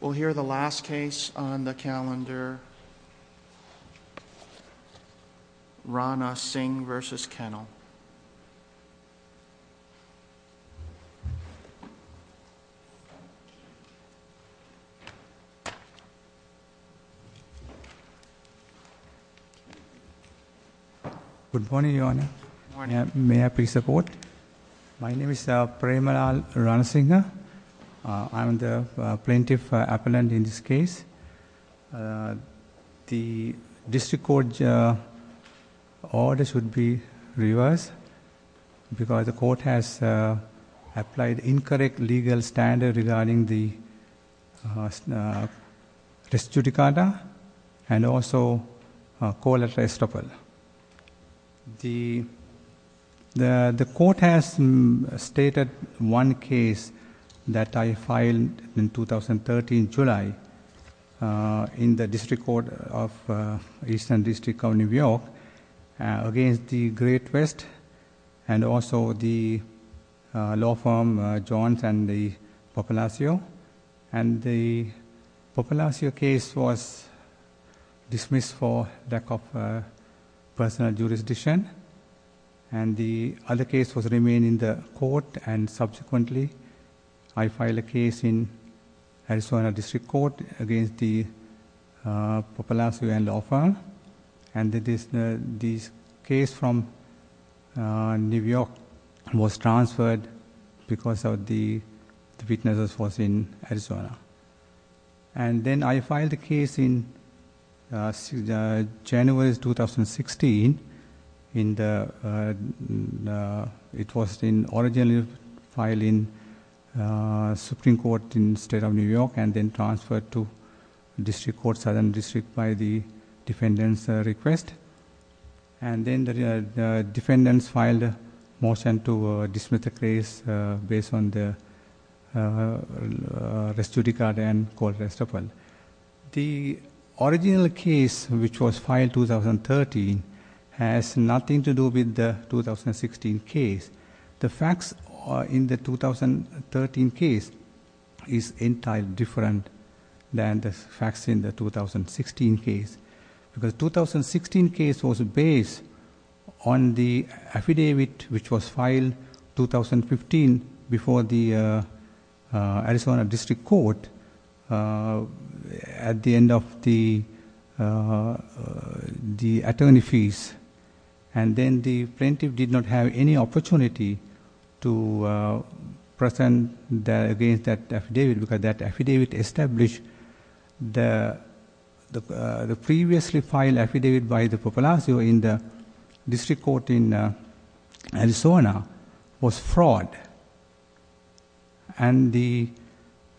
We'll hear the last case on the calendar, Ranasinghe v. Kennell. Good morning, Your Honor. May I please support? My name is Premaral Ranasinghe. I'm the plaintiff appellant in this case. The district court's order should be reversed because the court has applied incorrect legal standard regarding the res judicata and also that I filed in 2013 July in the district court of Eastern District County, New York against the Great West and also the law firm Jones and the Popalacio. And the Popalacio case was dismissed for lack of personal jurisdiction. And the other case was remained in the court and subsequently I filed a case in Arizona District Court against the Popalacio and law firm. And this case from New York was transferred because of the witnesses was in Arizona. And then I filed a case in January 2016. It was originally filed in Supreme Court in the state of New York and then transferred to district court Southern District by the defendant's request. And then the defendants filed a motion to dismiss the case based on the res judicata and court reciprocal. The original case which was filed in 2013 has nothing to do with the 2016 case. The facts in the 2013 case is entirely different than the facts in the 2016 case. Because the 2016 case was based on the affidavit which was filed in 2015 before the Arizona District Court at the end of the attorney fees. And then the plaintiff did not have any opportunity to present against that affidavit because that affidavit established the previously filed affidavit by the Popalacio in the district court in Arizona was fraud. And the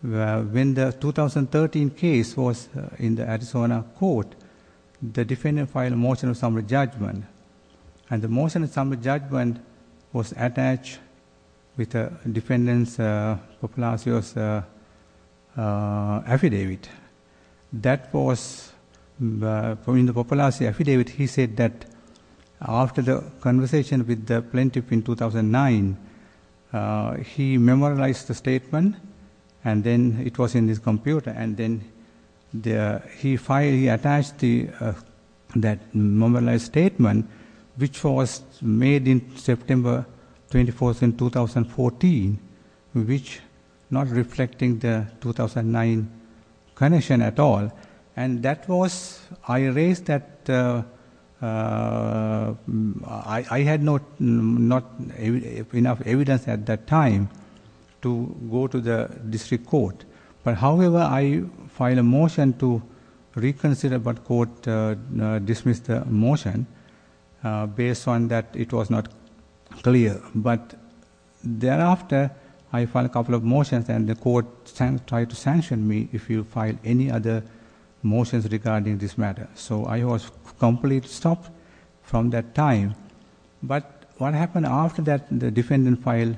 when the 2013 case was in the Arizona court, the defendant filed a motion of summary judgment. And the motion of summary judgment was attached with the defendant's Popalacio's affidavit. That was in the Popalacio affidavit he said that after the conversation with the plaintiff in 2009 he memorialized the statement. And then it was in his computer. And then the he filed he attached the that memorialized statement which was made in September 24th in 2014 which not reflecting the And that was I raised that I had not enough evidence at that time to go to the district court. But however I filed a motion to reconsider but court dismissed the motion based on that it was not clear. But thereafter I filed a couple of motions and the court tried to sanction me if you the motions regarding this matter. So I was completely stopped from that time. But what happened after that the defendant filed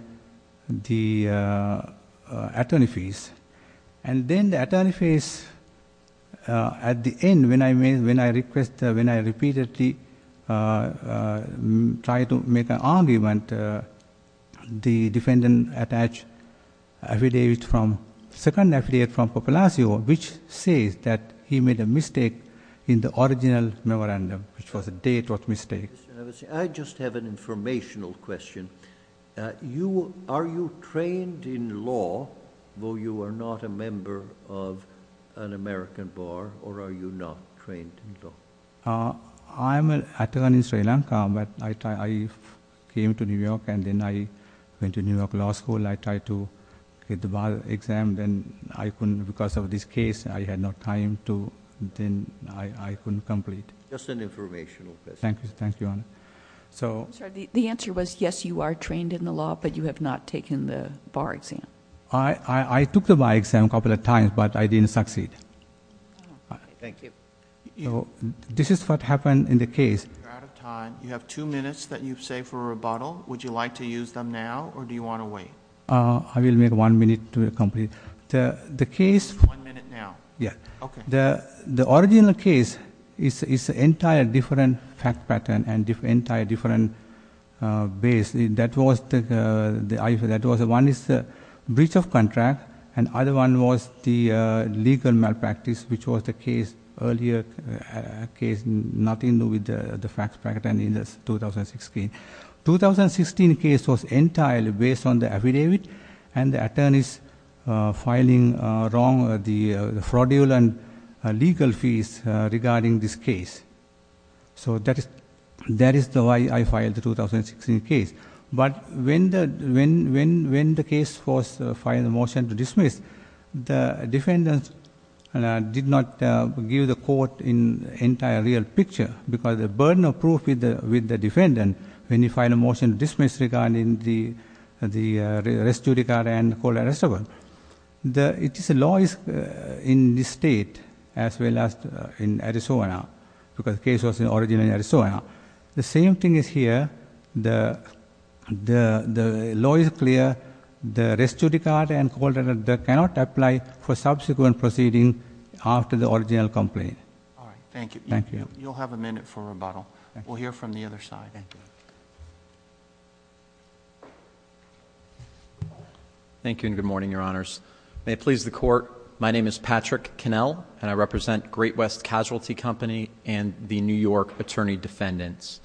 the attorney fees. And then the attorney fees at the end when I made when I requested when I repeatedly tried to make an argument the defendant attached affidavit from second affidavit from Popalacio which says that he made a mistake in the original memorandum which was a date of mistake. I just have an informational question. You are you trained in law though you are not a member of an American bar or are you not trained in law? I'm an attorney in Sri Lanka but I came to New York and then I went to New York law school. I tried to get the bar exam then I couldn't because of this case I had no time to then I couldn't complete. Just an informational question. Thank you. Thank you. So the answer was yes you are trained in the law but you have not taken the bar exam. I took the bar exam a couple of times but I didn't succeed. Thank you. This is what happened in the case. You're out of time. You have two minutes that you've saved for a rebuttal. Would you like to use them now or do you want to wait? I will make one minute to complete. The case. One minute now. Yeah. Okay. The original case is an entire different fact pattern and entire different base. That was the one is the breach of contract and other one was the legal malpractice which was the earlier case nothing to do with the fact pattern in the 2016. 2016 case was entirely based on the affidavit and the attorneys filing wrong the fraudulent legal fees regarding this case. So that is that is the why I filed the 2016 case. But when the when when when the case was filed a motion to dismiss the defendant did not give the court in entire real picture because the burden of proof with the with the defendant when he filed a motion dismissed regarding the the restudy card and cold arrestable. The it is a law is in this state as well as in Arizona because the case was in original Arizona. The same thing is here. The the the law is clear. The restudy card and cold arrestable cannot apply for subsequent proceeding after the original complaint. All right. Thank you. Thank you. You'll have a minute for rebuttal. We'll hear from the other side. Thank you and good morning your honors. May it please the court. My name is Patrick Cannell and I represent Great West Casualty Company and the New York attorney defendants.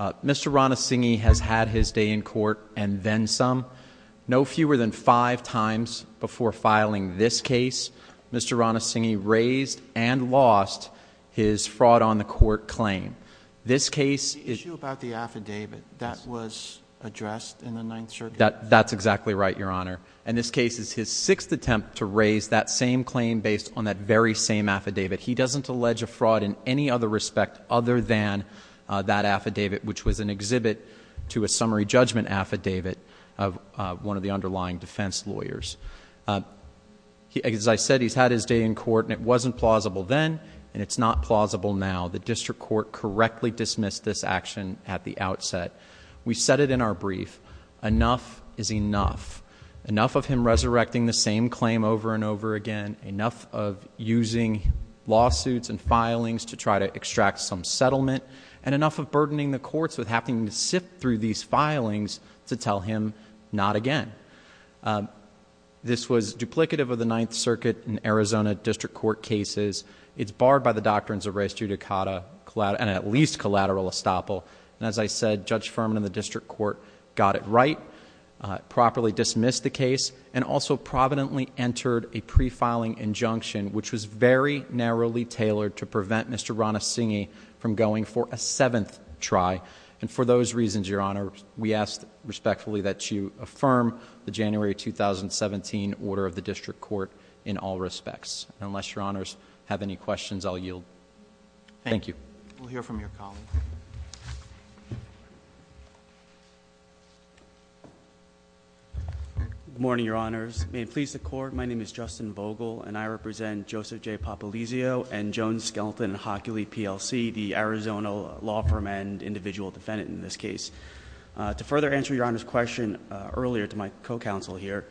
Mr. Rana singing has had his day in court. And then some no fewer than five times before filing this case. Mr. Rana singing raised and lost his fraud on the court claim. This case is about the affidavit that was addressed in the 9th that that's exactly right your honor. And this case is his sixth attempt to raise that same claim based on that very same affidavit. He doesn't allege a fraud in any other respect other than that affidavit which was an exhibit. To a summary judgment affidavit of one of the underlying defense lawyers. As I said he's had his day in court and it wasn't plausible then. And it's not plausible now. The district court correctly dismissed this action at the outset. We set it in our brief. Enough is enough. Enough of him resurrecting the same claim over and over again. Enough of using lawsuits and filings to try to extract some settlement. And enough of burdening the courts with having to sift through these filings to tell him not again. This was duplicative of the 9th circuit in Arizona district court cases. It's barred by the doctrines of res judicata and at least collateral estoppel. And as I said Judge Furman in the district court got it right. Properly dismissed the case. And also providently entered a pre-filing injunction which was very narrowly tailored to prevent Mr. Ranasinghe from going for a 7th try. And for those reasons your honor we ask respectfully that you affirm the January 2017 order of the district court in all respects. Unless your honors have any questions I'll yield. Thank you. We'll hear from your colleague. Good morning your honors. May it please the court. My name is Justin Vogel and I represent Joseph J. Papalesio and Joan Skelton and Hockley PLC, the Arizona law firm and individual defendant in this case. To further answer your honor's question earlier to my co-counsel here,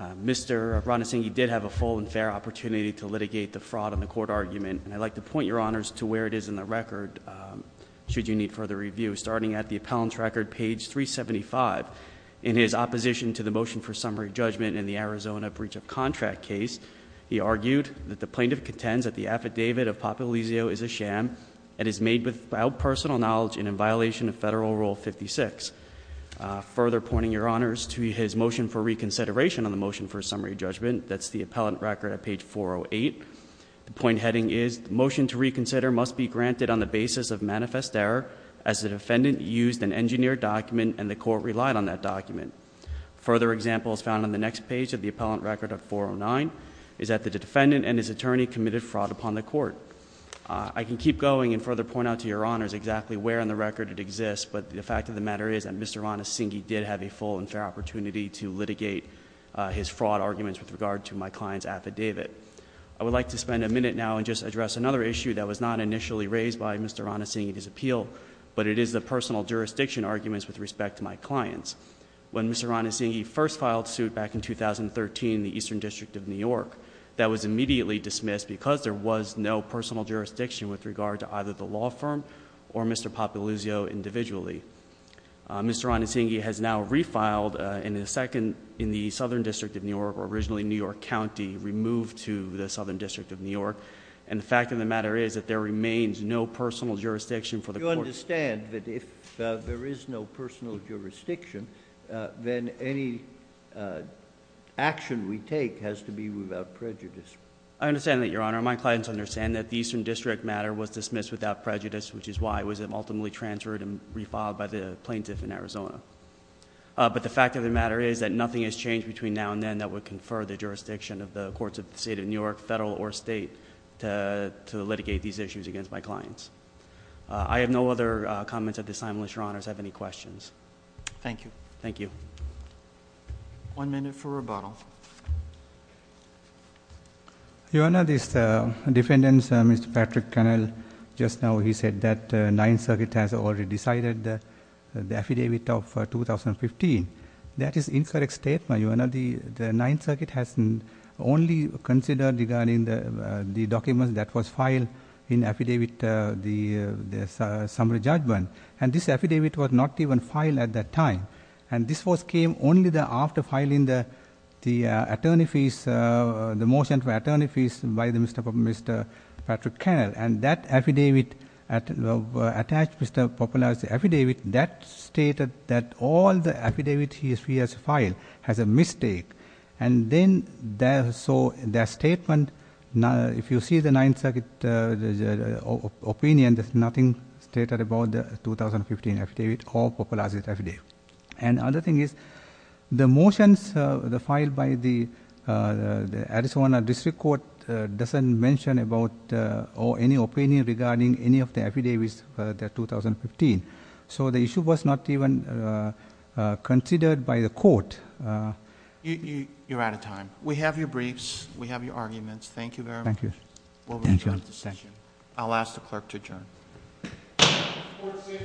Mr. Ranasinghe did have a full and fair opportunity to litigate the fraud in the court argument. I'd like to point your honors to where it is in the record, should you need further review. Starting at the appellant's record page 375, in his opposition to the motion for summary judgment in the Arizona breach of contract case, he argued that the plaintiff contends that the affidavit of Papalesio is a sham. And is made without personal knowledge and in violation of federal rule 56. Further pointing your honors to his motion for reconsideration on the motion for summary judgment. That's the appellant record at page 408. The point heading is, the motion to reconsider must be granted on the basis of manifest error as the defendant used an engineered document and the court relied on that document. Further examples found on the next page of the appellant record of 409 is that the defendant and his attorney committed fraud upon the court. I can keep going and further point out to your honors exactly where in the record it exists. But the fact of the matter is that Mr. Ranasinghe did have a full and fair opportunity to litigate his fraud arguments with regard to my client's affidavit. I would like to spend a minute now and just address another issue that was not initially raised by Mr. Ranasinghe at his appeal. But it is the personal jurisdiction arguments with respect to my clients. When Mr. Ranasinghe first filed suit back in 2013 in the Eastern District of New York, that was immediately dismissed because there was no personal jurisdiction with regard to either the law firm or Mr. Papalesio individually. Mr. Ranasinghe has now refiled in the Southern District of New York, or originally New York County, removed to the Southern District of New York. And the fact of the matter is that there remains no personal jurisdiction for the court- You understand that if there is no personal jurisdiction, then any action we take has to be without prejudice. I understand that, Your Honor. My clients understand that the Eastern District matter was dismissed without prejudice, which is why it was ultimately transferred and refiled by the plaintiff in Arizona. But the fact of the matter is that nothing has changed between now and then that would confer the jurisdiction of the courts of the state of New York, federal or state, to litigate these issues against my clients. I have no other comments at this time, unless Your Honors have any questions. Thank you. Thank you. One minute for rebuttal. Your Honor, this defendant, Mr. Patrick Cannell, just now he said that Ninth Circuit has already decided the affidavit of 2015. That is incorrect statement, Your Honor. The Ninth Circuit has only considered regarding the document that was filed in affidavit, the summary judgment, and this affidavit was not even filed at that time. And this was came only after filing the attorney fees, the motion for attorney fees by Mr. Patrick Cannell. And that affidavit attached Mr. Popolaz's affidavit. That stated that all the affidavit he has filed has a mistake. And then, so that statement, if you see the Ninth Circuit opinion, then there's nothing stated about the 2015 affidavit or Popolaz's affidavit. And other thing is, the motions filed by the Arizona District Court doesn't mention about any opinion regarding any of the affidavits for the 2015. So the issue was not even considered by the court. You're out of time. We have your briefs. We have your arguments. Thank you very much. Thank you. We'll adjourn at this session. I'll ask the clerk to adjourn. The court is adjourned.